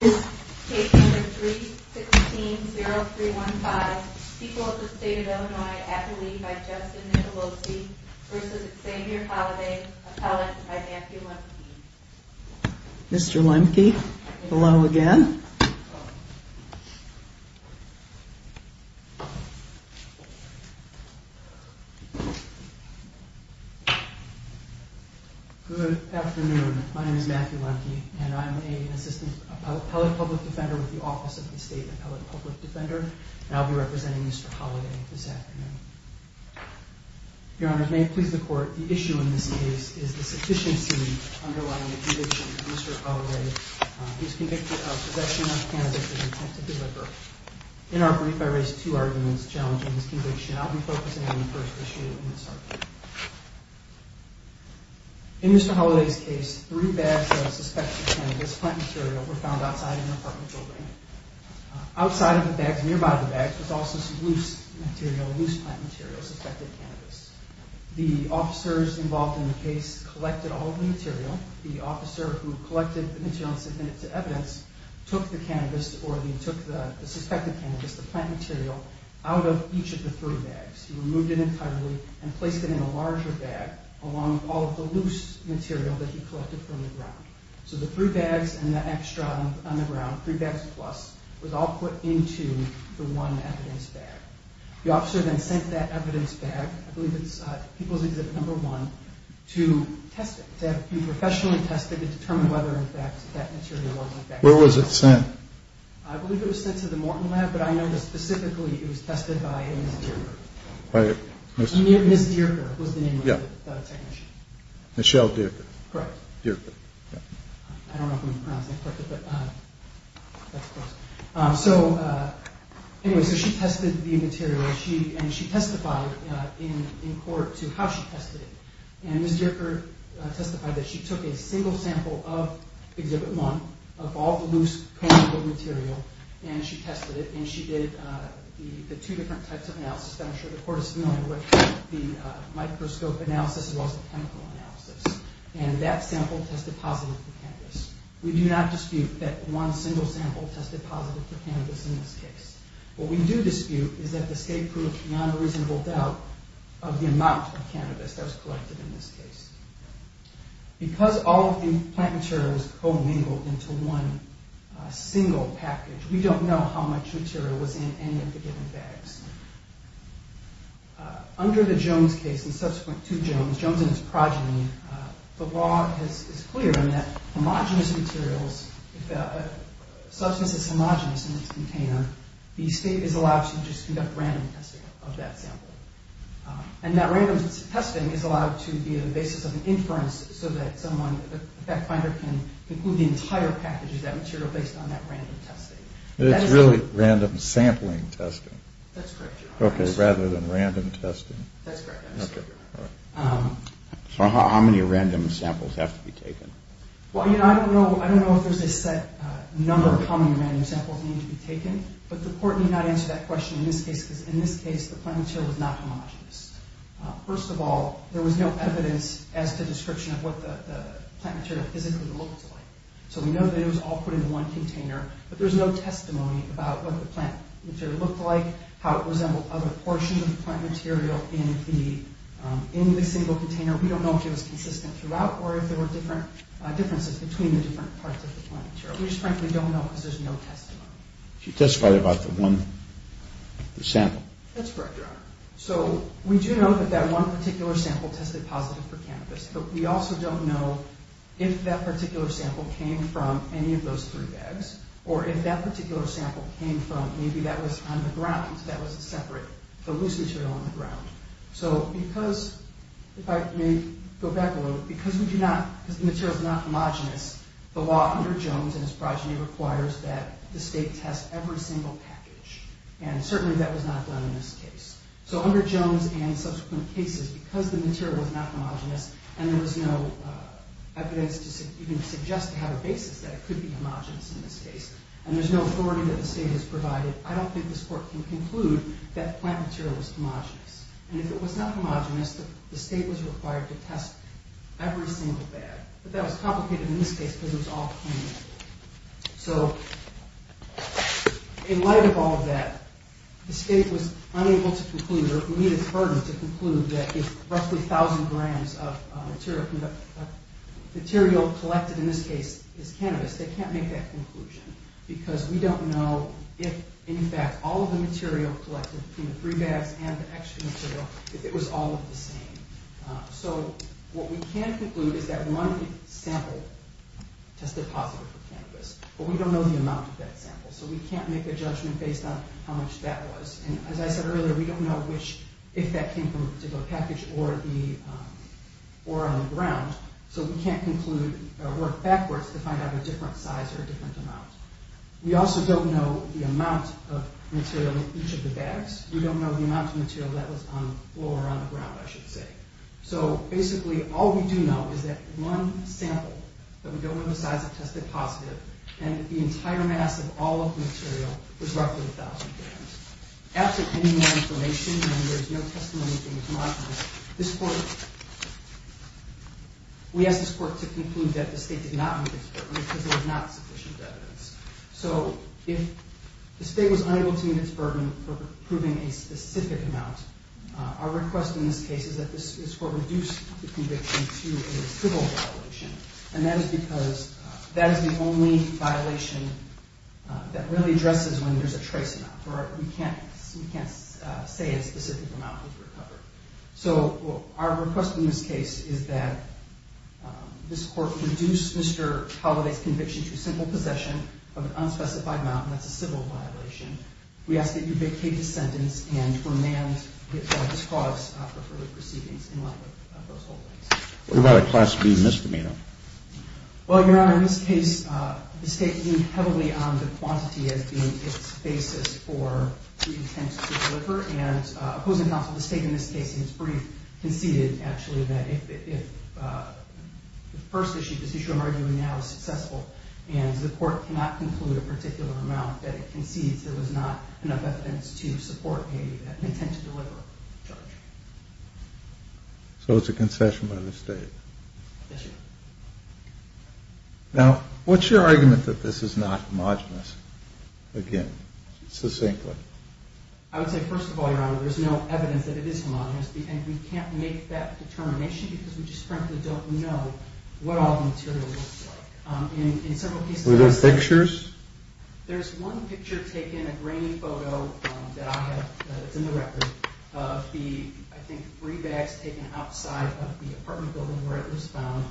Case number 316-0315, People of the State of Illinois, Appellee by Justin Nicolosi v. Xavier Holliday, Appellant by Matthew Lemke Mr. Lemke, hello again Good afternoon, my name is Matthew Lemke and I'm an Assistant Appellate Public Defender with the Office of the State Appellate Public Defender and I'll be representing Mr. Holliday this afternoon Your Honor, may it please the Court, the issue in this case is the sufficiency underlying the conviction of Mr. Holliday who is convicted of possession of cannabis with intent to deliver In our brief, I raised two arguments challenging this conviction I'll be focusing on the first issue in this argument In Mr. Holliday's case, three bags of suspected cannabis plant material were found outside an apartment building Outside of the bags, nearby the bags, was also some loose material, loose plant material, suspected cannabis The officers involved in the case collected all the material The officer who collected the material and submitted it to evidence took the cannabis, or he took the suspected cannabis, the plant material, out of each of the three bags He removed it entirely and placed it in a larger bag along all of the loose material that he collected from the ground So the three bags and the extra on the ground, three bags plus, was all put into the one evidence bag The officer then sent that evidence bag, I believe it's People's Exhibit No. 1, to test it to have it be professionally tested to determine whether or not that material was infected Where was it sent? I believe it was sent to the Morton Lab, but I know that specifically it was tested by Ms. Dierker Ms. Dierker was the name of the technician Michelle Dierker Correct Dierker I don't know if I'm pronouncing it correctly, but that's close So, anyway, so she tested the material and she testified in court to how she tested it And Ms. Dierker testified that she took a single sample of Exhibit 1, of all the loose chemical material and she tested it and she did the two different types of analysis that I'm sure the court is familiar with The microscope analysis as well as the chemical analysis And that sample tested positive for cannabis We do not dispute that one single sample tested positive for cannabis in this case What we do dispute is that the state proved beyond a reasonable doubt of the amount of cannabis that was collected in this case Because all of the plant material was co-mingled into one single package we don't know how much material was in any of the given bags Under the Jones case, and subsequent to Jones, Jones and his progeny the law is clear in that homogenous materials, if a substance is homogenous in its container the state is allowed to just conduct random testing of that sample And that random testing is allowed to be the basis of an inference so that someone, the fact finder can include the entire package of that material based on that random testing So it's really random sampling testing? That's correct, your honor Okay, rather than random testing That's correct, your honor So how many random samples have to be taken? Well, you know, I don't know if there's a set number of how many random samples need to be taken but the court did not answer that question in this case because in this case the plant material was not homogenous First of all, there was no evidence as to description of what the plant material physically looked like So we know that it was all put in one container but there's no testimony about what the plant material looked like how it resembled other portions of the plant material in the single container We don't know if it was consistent throughout or if there were differences between the different parts of the plant material We just frankly don't know because there's no testimony She testified about the one sample That's correct, your honor So we do know that that one particular sample tested positive for cannabis but we also don't know if that particular sample came from any of those three bags or if that particular sample came from, maybe that was on the ground that was a separate, a loose material on the ground So because, if I may go back a little because we do not, because the material is not homogenous the law under Jones and his progeny requires that the state test every single package and certainly that was not done in this case So under Jones and subsequent cases, because the material was not homogenous and there was no evidence to even suggest to have a basis that it could be homogenous in this case and there's no authority that the state has provided I don't think this court can conclude that the plant material was homogenous and if it was not homogenous, the state was required to test every single bag but that was complicated in this case because it was all clean So, in light of all of that, the state was unable to conclude or needed its burden to conclude that if roughly 1,000 grams of material collected in this case is cannabis they can't make that conclusion because we don't know if, in fact, all of the material collected from the three bags and the extra material, if it was all of the same So what we can conclude is that one sample tested positive for cannabis but we don't know the amount of that sample so we can't make a judgment based on how much that was and as I said earlier, we don't know if that came from a particular package or on the ground so we can't conclude or work backwards to find out a different size or a different amount We also don't know the amount of material in each of the bags We don't know the amount of material that was on the floor or on the ground, I should say So, basically, all we do know is that one sample, but we don't know the size, tested positive and the entire mass of all of the material was roughly 1,000 grams After getting more information and there's no testimony that came to my office we asked this court to conclude that the state did not need its burden because there was not sufficient evidence So, if the state was unable to meet its burden for proving a specific amount our request in this case is that this court reduce the conviction to a civil violation and that is because that is the only violation that really addresses when there's a trace amount or we can't say a specific amount was recovered So, our request in this case is that this court reduce Mr. Halliday's conviction to a simple possession of an unspecified amount and that's a civil violation We ask that you vacate the sentence and remand his cause after further proceedings in light of those holdings What about a Class B misdemeanor? Well, Your Honor, in this case, the state leaned heavily on the quantity as being its basis for intent to deliver and opposing counsel, the state in this case, in its brief, conceded actually that if the first issue this issue I'm arguing now is successful and the court cannot conclude a particular amount that it concedes there was not enough evidence to support an intent to deliver charge So, it's a concession by the state? Yes, Your Honor Now, what's your argument that this is not homogenous? Again, succinctly I would say first of all, Your Honor, there's no evidence that it is homogenous and we can't make that determination because we just frankly don't know what all the material looks like Were there pictures? There's one picture taken, a grainy photo that I have that's in the record of the, I think, three bags taken outside of the apartment building where it was found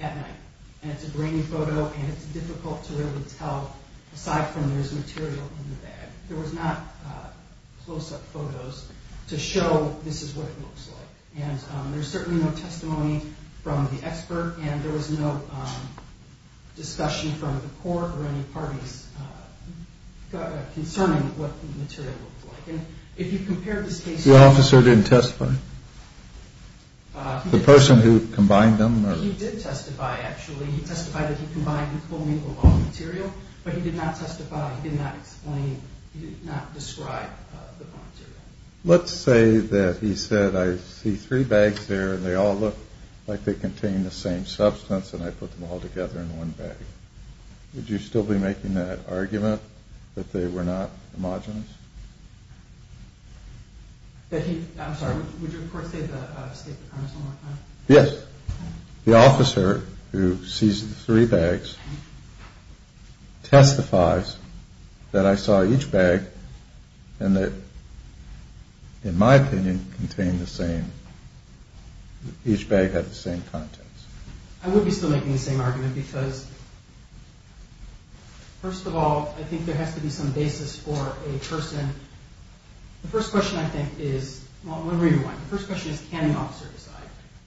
at night and it's a grainy photo and it's difficult to really tell aside from there's material in the bag there was not close-up photos to show this is what it looks like and there's certainly no testimony from the expert and there was no discussion from the court or any parties concerning what the material looks like and if you compare this case to... The officer didn't testify? The person who combined them? He did testify, actually. He testified that he combined the full and equal amount of material but he did not testify, he did not explain, he did not describe the material Let's say that he said I see three bags there and they all look like they contain the same substance and I put them all together in one bag Would you still be making that argument that they were not homogenous? I'm sorry, would you of course state the premise one more time? Yes, the officer who sees the three bags testifies that I saw each bag and that, in my opinion, contained the same, each bag had the same contents I would be still making the same argument because, first of all, I think there has to be some basis for a person The first question I think is, well let me rewind, the first question is can an officer decide?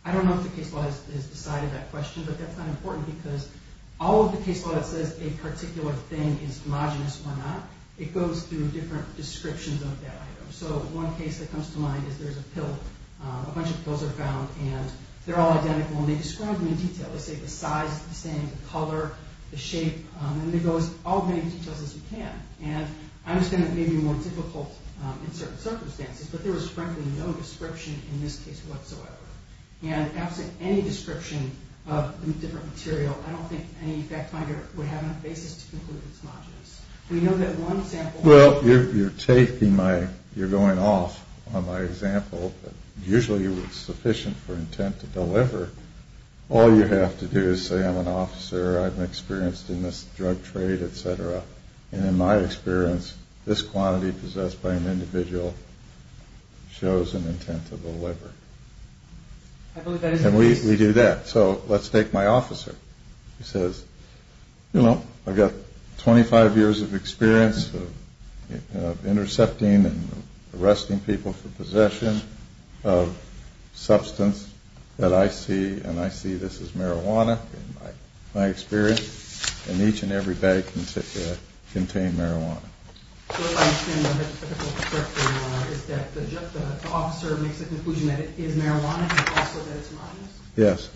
I don't know if the case law has decided that question but that's not important because all of the case law that says a particular thing is homogenous or not it goes through different descriptions of that item So one case that comes to mind is there's a pill, a bunch of pills are found and they're all identical and they describe them in detail They say the size is the same, the color, the shape, and it goes all the details as you can and I understand that may be more difficult in certain circumstances but there is frankly no description in this case whatsoever and absent any description of the different material I don't think any fact finder would have enough basis to conclude it's homogenous We know that one example... Well, you're taking my, you're going off on my example but usually it's sufficient for intent to deliver All you have to do is say I'm an officer, I've experienced in this drug trade, etc and in my experience this quantity possessed by an individual shows an intent to deliver and we do that So let's take my officer, he says, you know, I've got 25 years of experience of intercepting and arresting people for possession of substance that I see and I see this as marijuana in my experience and each and every bag contained marijuana So what I understand from the typical perspective is that the officer makes a conclusion that it is marijuana but also that it's homogenous? Yes,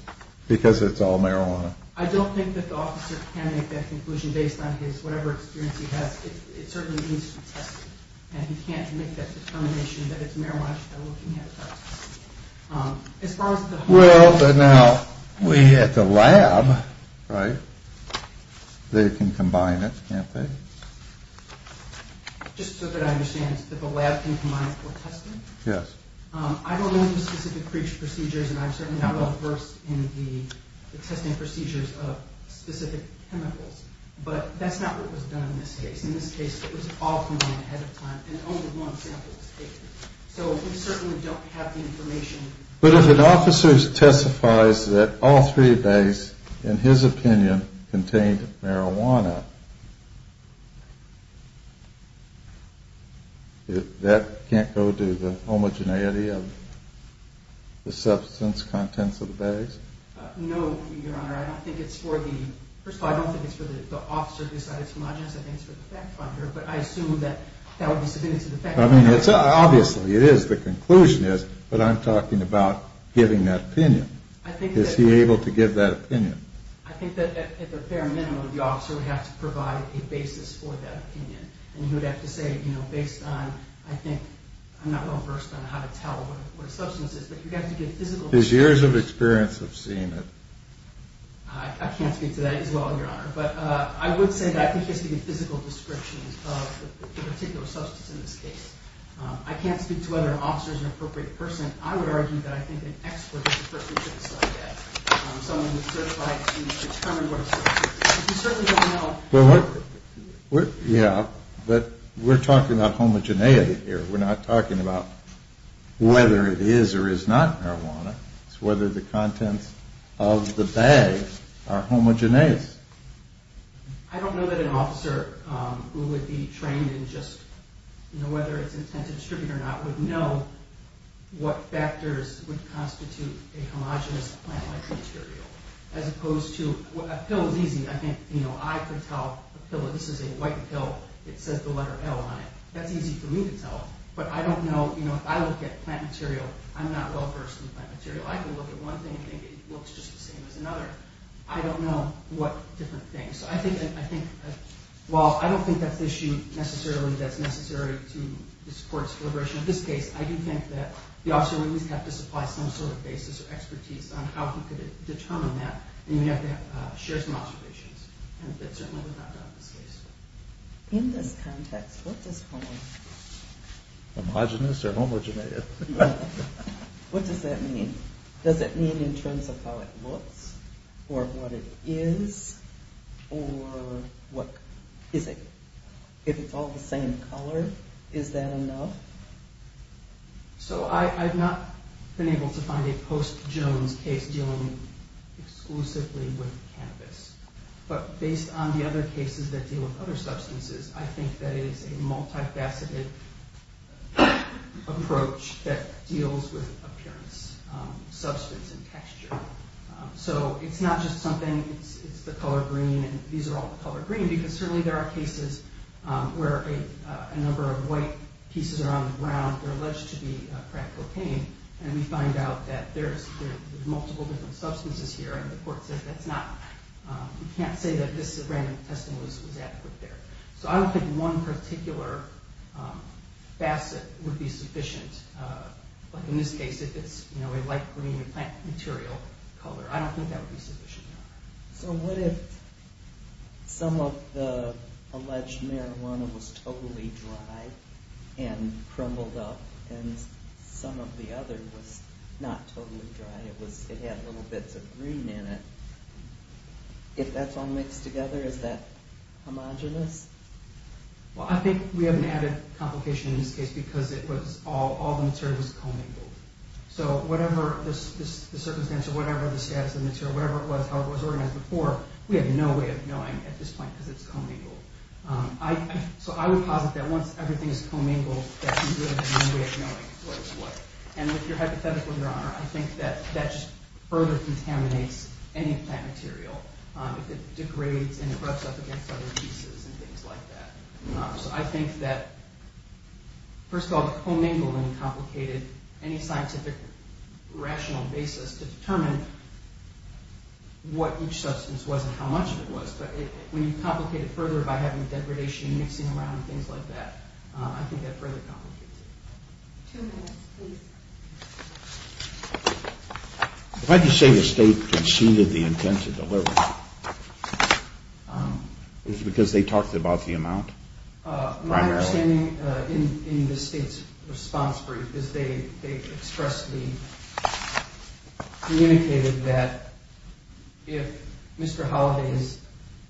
because it's all marijuana I don't think that the officer can make that conclusion based on his, whatever experience he has It certainly needs to be tested and he can't make that determination that it's marijuana just by looking at it Well, but now we have the lab, right? They can combine it, can't they? Just so that I understand, the lab can combine it for testing? Yes I don't know the specific procedures and I'm certainly not well versed in the testing procedures of specific chemicals but that's not what was done in this case In this case it was all combined ahead of time and only one sample was taken So we certainly don't have the information But if an officer testifies that all three bags, in his opinion, contained marijuana that can't go to the homogeneity of the substance contents of the bags? No, Your Honor, I don't think it's for the First of all, I don't think it's for the officer who decided it's homogenous I think it's for the fact finder but I assume that that would be submitted to the fact finder I mean, obviously it is, the conclusion is, but I'm talking about giving that opinion Is he able to give that opinion? I think that at the bare minimum the officer would have to provide a basis for that opinion and he would have to say, you know, based on, I think, I'm not well versed on how to tell what a substance is but you have to give physical descriptions His years of experience of seeing it I can't speak to that as well, Your Honor But I would say that I think it has to be a physical description of the particular substance in this case I can't speak to whether an officer is an appropriate person I would argue that I think an expert is the person who should decide that Someone who is certified to determine what a substance is We certainly don't know Yeah, but we're talking about homogeneity here We're not talking about whether it is or is not marijuana It's whether the contents of the bag are homogeneous I don't know that an officer who would be trained in just, you know, whether it's intended to distribute or not would know what factors would constitute a homogenous plant-like material As opposed to, a pill is easy I think, you know, I could tell a pill, this is a white pill, it says the letter L on it That's easy for me to tell But I don't know, you know, if I look at plant material, I'm not well-versed in plant material I can look at one thing and think it looks just the same as another I don't know what different things So I think, well, I don't think that's an issue necessarily that's necessary to this court's deliberation In this case, I do think that the officer would at least have to supply some sort of basis or expertise on how he could determine that And you'd have to share some observations And certainly without doubt in this case In this context, what does homo... Homogenous or homogenated? What does that mean? Does it mean in terms of how it looks? Or what it is? Or what is it? If it's all the same color, is that enough? So I've not been able to find a post-Jones case dealing exclusively with cannabis But based on the other cases that deal with other substances I think that it is a multifaceted approach that deals with appearance, substance, and texture So it's not just something, it's the color green And these are all the color green Because certainly there are cases where a number of white pieces are on the ground They're alleged to be crack cocaine And we find out that there's multiple different substances here And the court says that's not... You can't say that this random testing was adequate there So I don't think one particular facet would be sufficient Like in this case, if it's a light green plant material color I don't think that would be sufficient So what if some of the alleged marijuana was totally dry and crumbled up And some of the other was not totally dry And it had little bits of green in it If that's all mixed together, is that homogenous? Well, I think we have an added complication in this case Because all the material was co-mingled So whatever the circumstance or whatever the status of the material Whatever it was, how it was organized before We have no way of knowing at this point because it's co-mingled So I would posit that once everything is co-mingled That's a good way of knowing what is what And with your hypothetical, your honor I think that just further contaminates any plant material If it degrades and rubs up against other pieces and things like that So I think that, first of all, co-mingling complicated Any scientific rational basis to determine what each substance was And how much of it was But when you complicate it further by having degradation mixing around And things like that, I think that further complicates it Two minutes, please Why do you say the state conceded the intent to deliver? Is it because they talked about the amount? My understanding in the state's response brief Is they expressly communicated that If Mr. Holiday is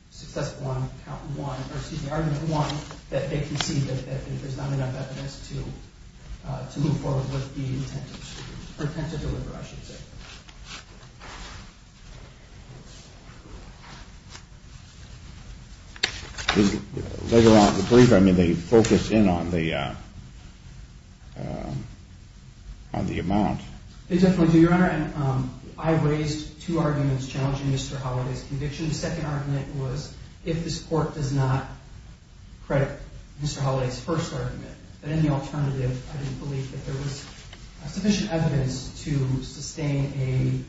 successful on count one Or excuse me, argument one That they concede that there's not enough evidence to move forward With the intent to deliver, I should say Later on in the brief, they focus in on the amount Your honor, I raised two arguments challenging Mr. Holiday's conviction The second argument was if this court does not credit Mr. Holiday's first argument But in the alternative, I didn't believe that there was sufficient evidence To sustain an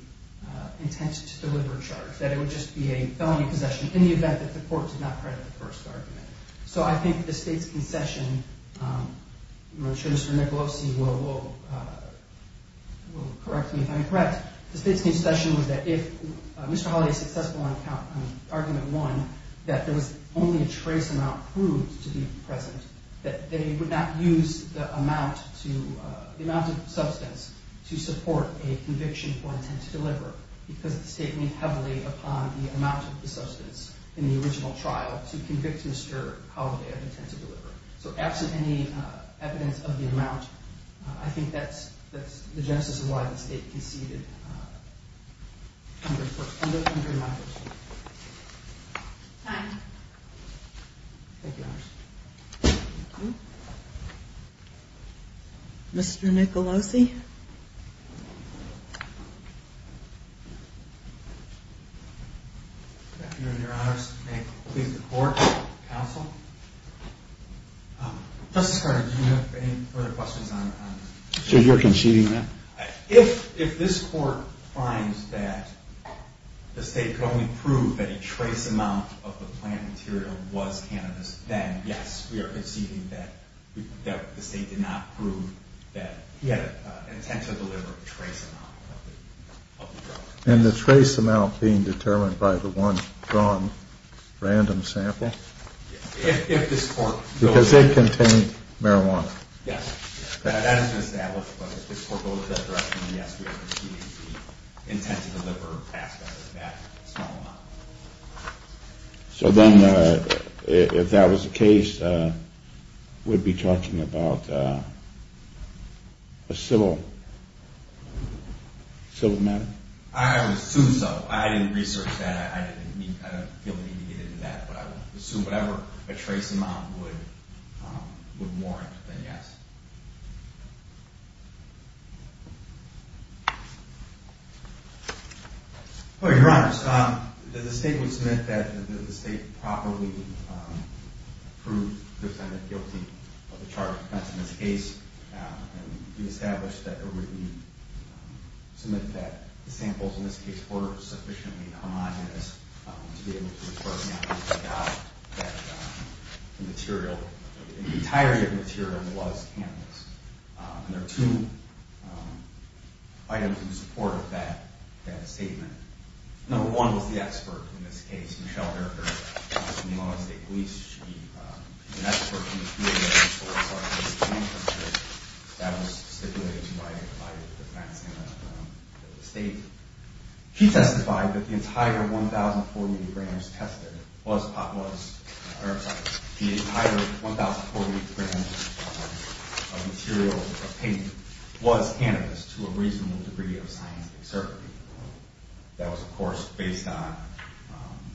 intent to deliver charge That it would just be a felony possession In the event that the court did not credit the first argument So I think the state's concession I'm sure Mr. Nicolosi will correct me if I'm incorrect The state's concession was that if Mr. Holiday is successful on argument one That there was only a trace amount proved to be present That they would not use the amount of substance To support a conviction for intent to deliver Because the state leaned heavily upon the amount of the substance In the original trial to convict Mr. Holiday of intent to deliver So absent any evidence of the amount I think that's the genesis of why the state conceded Mr. Nicolosi Thank you Your honor, may it please the court and counsel Justice Carter, do you have any further questions? So you're conceding that? If this court finds that the state could only prove That a trace amount of the plant material was cannabis Then yes, we are conceding that the state did not prove That he had an intent to deliver trace amount of the drug And the trace amount being determined by the one drawn random sample? Because it contained marijuana Yes, that is established, but if this court goes that direction Yes, we are conceding the intent to deliver aspect of that small amount So then if that was the case We'd be talking about a civil matter? I would assume so, I didn't research that I don't feel the need to get into that But I would assume whatever a trace amount would warrant, then yes Well, your honor, the state would submit that the state Properly proved the defendant guilty of the charge of offense in this case And we established that, or we would submit that The samples in this case were sufficiently homogenous To be able to report the evidence that the material The entirety of the material was cannabis And there are two items in support of that statement Number one was the expert in this case, Michelle Erker She's from the Illinois State Police She's an expert in the field of use of cannabis That was stipulated by the facts in the state She testified that the entire 1,040 grams tested The entire 1,040 grams of material of paint Was cannabis to a reasonable degree of scientific certainty That was of course based on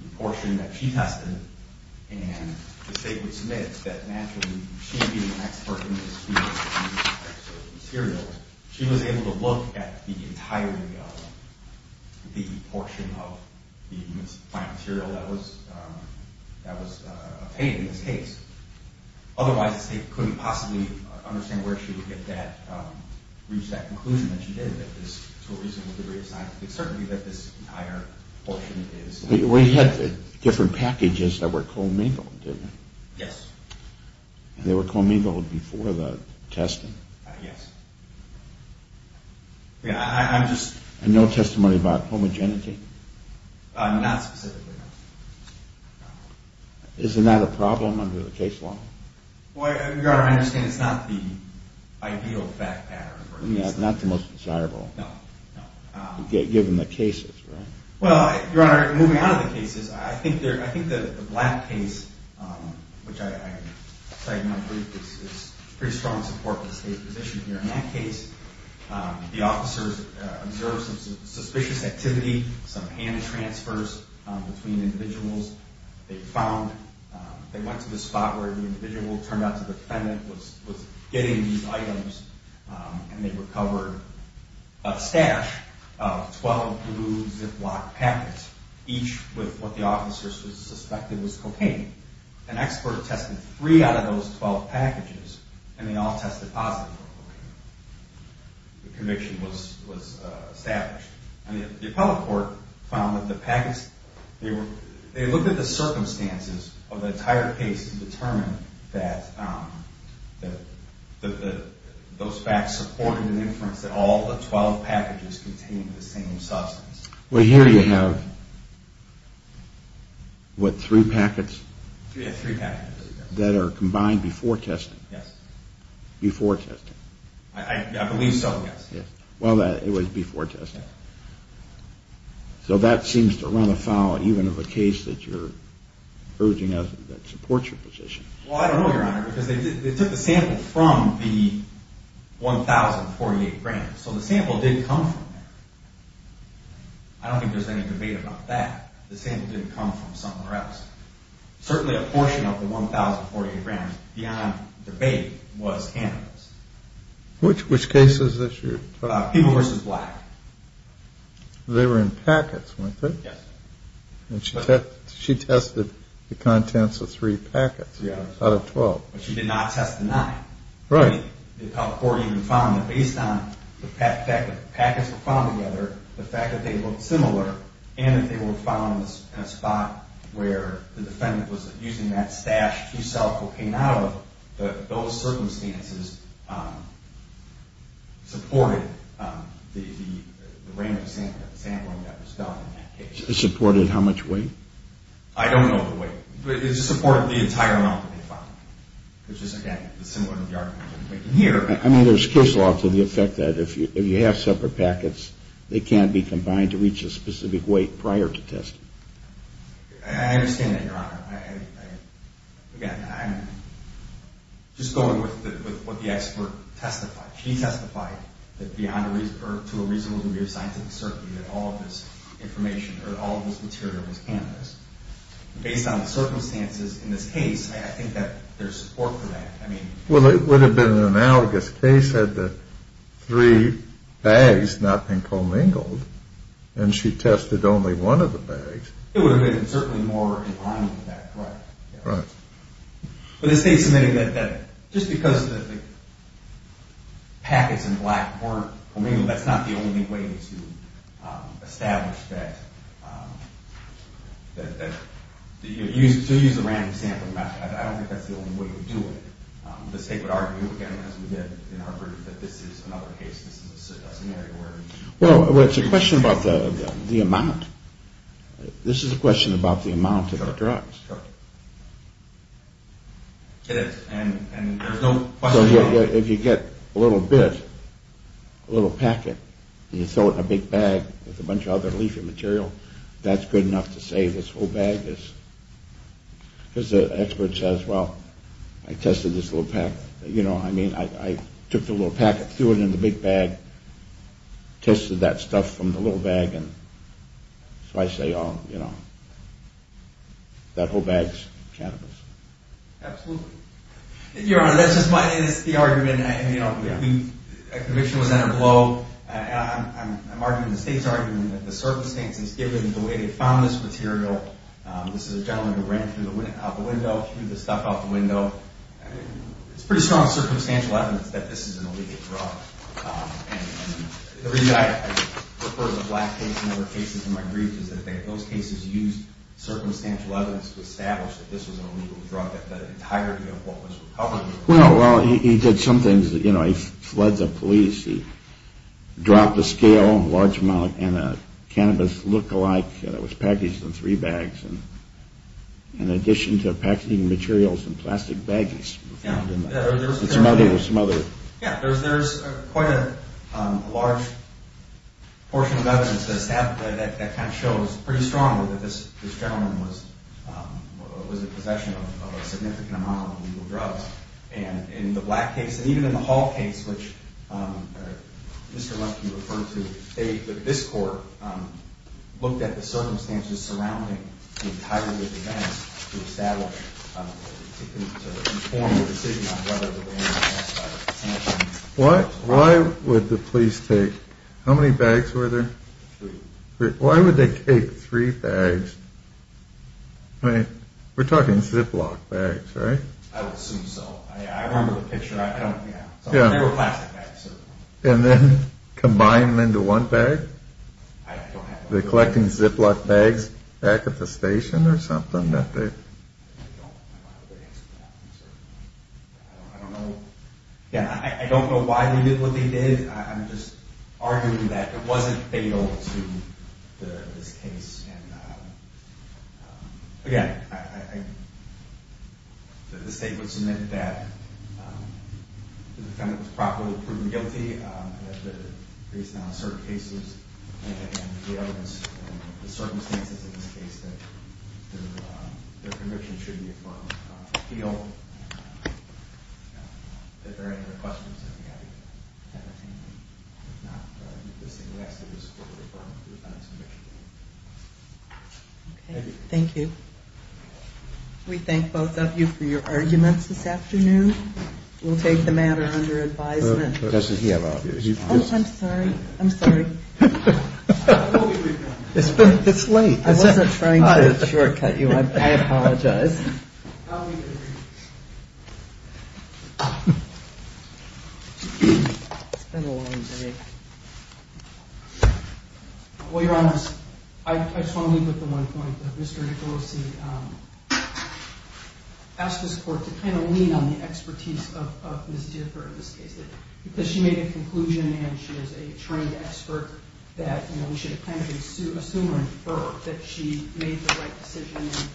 the portion that she tested And the state would submit that naturally She being an expert in this field of use of cannabis materials She was able to look at the entirety of The portion of the plant material that was obtained in this case Otherwise the state couldn't possibly understand Where she would reach that conclusion that she did That this to a reasonable degree of scientific certainty That this entire portion is We had different packages that were co-mingled, didn't we? Yes They were co-mingled before the testing? Yes Yeah, I'm just... And no testimony about homogeneity? Not specifically Isn't that a problem under the case law? Well, Your Honor, I understand it's not the ideal fact pattern Not the most desirable No Given the cases, right? Well, Your Honor, moving out of the cases I think the black case, which I cited in my brief Is pretty strong support for the state's position here In that case, the officers observed some suspicious activity Some hand transfers between individuals They found... They went to the spot where the individual turned out to be the defendant Was getting these items And they recovered a stash of 12 blue Ziploc packets Each with what the officers suspected was cocaine An expert tested three out of those 12 packages And they all tested positive for cocaine The conviction was established And the appellate court found that the packets... They looked at the circumstances of the entire case To determine that those facts supported an inference That all the 12 packages contained the same substance Well, here you have, what, three packets? Yeah, three packets That are combined before testing? Yes Before testing? I believe so, yes Well, it was before testing So that seems to run afoul even of a case that you're urging us... That supports your position Well, I don't know, Your Honor Because they took the sample from the 1048 grams So the sample did come from there I don't think there's any debate about that The sample did come from somewhere else Certainly a portion of the 1048 grams, beyond debate, was cannabis Which cases this year? People v. Black They were in packets, weren't they? Yes And she tested the contents of three packets out of 12 But she did not test the nine Right The appellate court even found that based on the fact that packets were found together The fact that they looked similar And that they were found in a spot where the defendant was using that stash to sell cocaine out of Those circumstances supported the random sampling that was done in that case Supported how much weight? I don't know the weight It supported the entire amount that they found Which is, again, similar to the argument you're making here I mean, there's case law to the effect that if you have separate packets They can't be combined to reach a specific weight prior to testing I understand that, Your Honor Again, I'm just going with what the expert testified She testified that to a reasonable degree of scientific certainty That all of this information, or all of this material was cannabis Based on the circumstances in this case, I think that there's support for that Well, it would have been an analogous case had the three bags not been commingled And she tested only one of the bags It would have been certainly more in line with that Right But the state submitted that just because the packets in black weren't commingled That's not the only way to establish that To use a random sample, I don't think that's the only way to do it The state would argue, again, as we did in Harvard That this is another case, this is a scenario where Well, it's a question about the amount This is a question about the amount of the drugs Correct It is, and there's no question about it So if you get a little bit, a little packet And you throw it in a big bag with a bunch of other leafy material That's good enough to say this whole bag is Because the expert says, well, I tested this little packet You know, I mean, I took the little packet, threw it in the big bag Tested that stuff from the little bag So I say, oh, you know, that whole bag's cannabis Absolutely Your Honor, that's just my, it's the argument You know, a conviction was in a blow I'm arguing, the state's arguing that the circumstances Given the way they found this material This is a gentleman who ran through the window Threw the stuff out the window It's pretty strong circumstantial evidence that this is an illegal drug And the reason I refer to the Black case and other cases in my brief Is that those cases used circumstantial evidence To establish that this was an illegal drug That the entirety of what was recovered Well, he did some things, you know, he fled the police He dropped a scale, a large amount And a cannabis look-alike that was packaged in three bags In addition to packaging materials in plastic baggies There's some other Yeah, there's quite a large portion of evidence That kind of shows pretty strongly that this gentleman Was in possession of a significant amount of illegal drugs And in the Black case, and even in the Hall case Which Mr. Lemke referred to This court looked at the circumstances surrounding The entirety of the events to establish To form a decision on whether the ban was passed What, why would the police take How many bags were there? Three Why would they take three bags? I mean, we're talking Ziploc bags, right? I would assume so I remember the picture, I don't, yeah They were plastic bags, so And then combine them into one bag? I don't have that Were they collecting Ziploc bags back at the station or something? I don't know Yeah, I don't know why they did what they did I'm just arguing that it wasn't fatal to this case And again, I The state would submit that The defendant was properly proven guilty Based on certain cases And the evidence, the circumstances in this case That their conviction should be affirmed If there are any other questions, I'd be happy to entertain them If not, I'd like to move this thing next to this court Referring to the defendant's conviction Okay, thank you We thank both of you for your arguments this afternoon We'll take the matter under advisement Doesn't he have obvious reasons? Oh, I'm sorry, I'm sorry It's late I wasn't trying to shortcut you, I apologize It's been a long day Well, Your Honor, I just want to leave with the one point That Mr. Nicolosi asked this court to kind of lean on the expertise of Ms. Differ In this case, because she made a conclusion And she is a trained expert That we should kind of assume or infer That she made the right decision And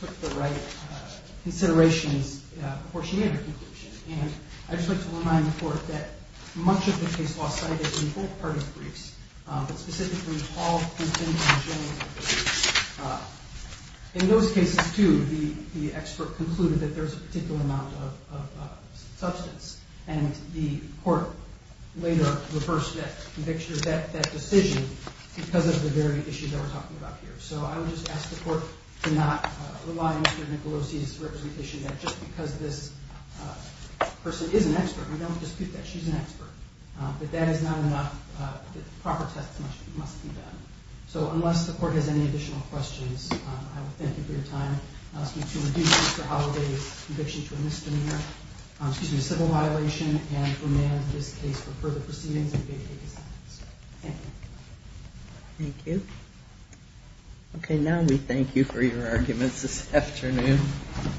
took the right considerations Before she made her conclusion And I'd just like to remind the court That much of the case was cited in both parties' briefs But specifically Paul, Houston, and James In those cases, too, the expert concluded That there's a particular amount of substance And the court later reversed that decision Because of the very issue that we're talking about here So I would just ask the court to not rely on Mr. Nicolosi's representation That just because this person is an expert We don't dispute that she's an expert But that is not enough The proper test must be done So unless the court has any additional questions I would thank you for your time I ask you to reduce Mr. Holloway's conviction to a misdemeanor Excuse me, a civil violation And remand this case for further proceedings And to vacate the sentence Thank you Thank you Okay, now we thank you for your arguments this afternoon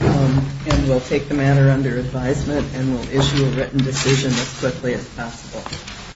And we'll take the matter under advisement And we'll issue a written decision as quickly as possible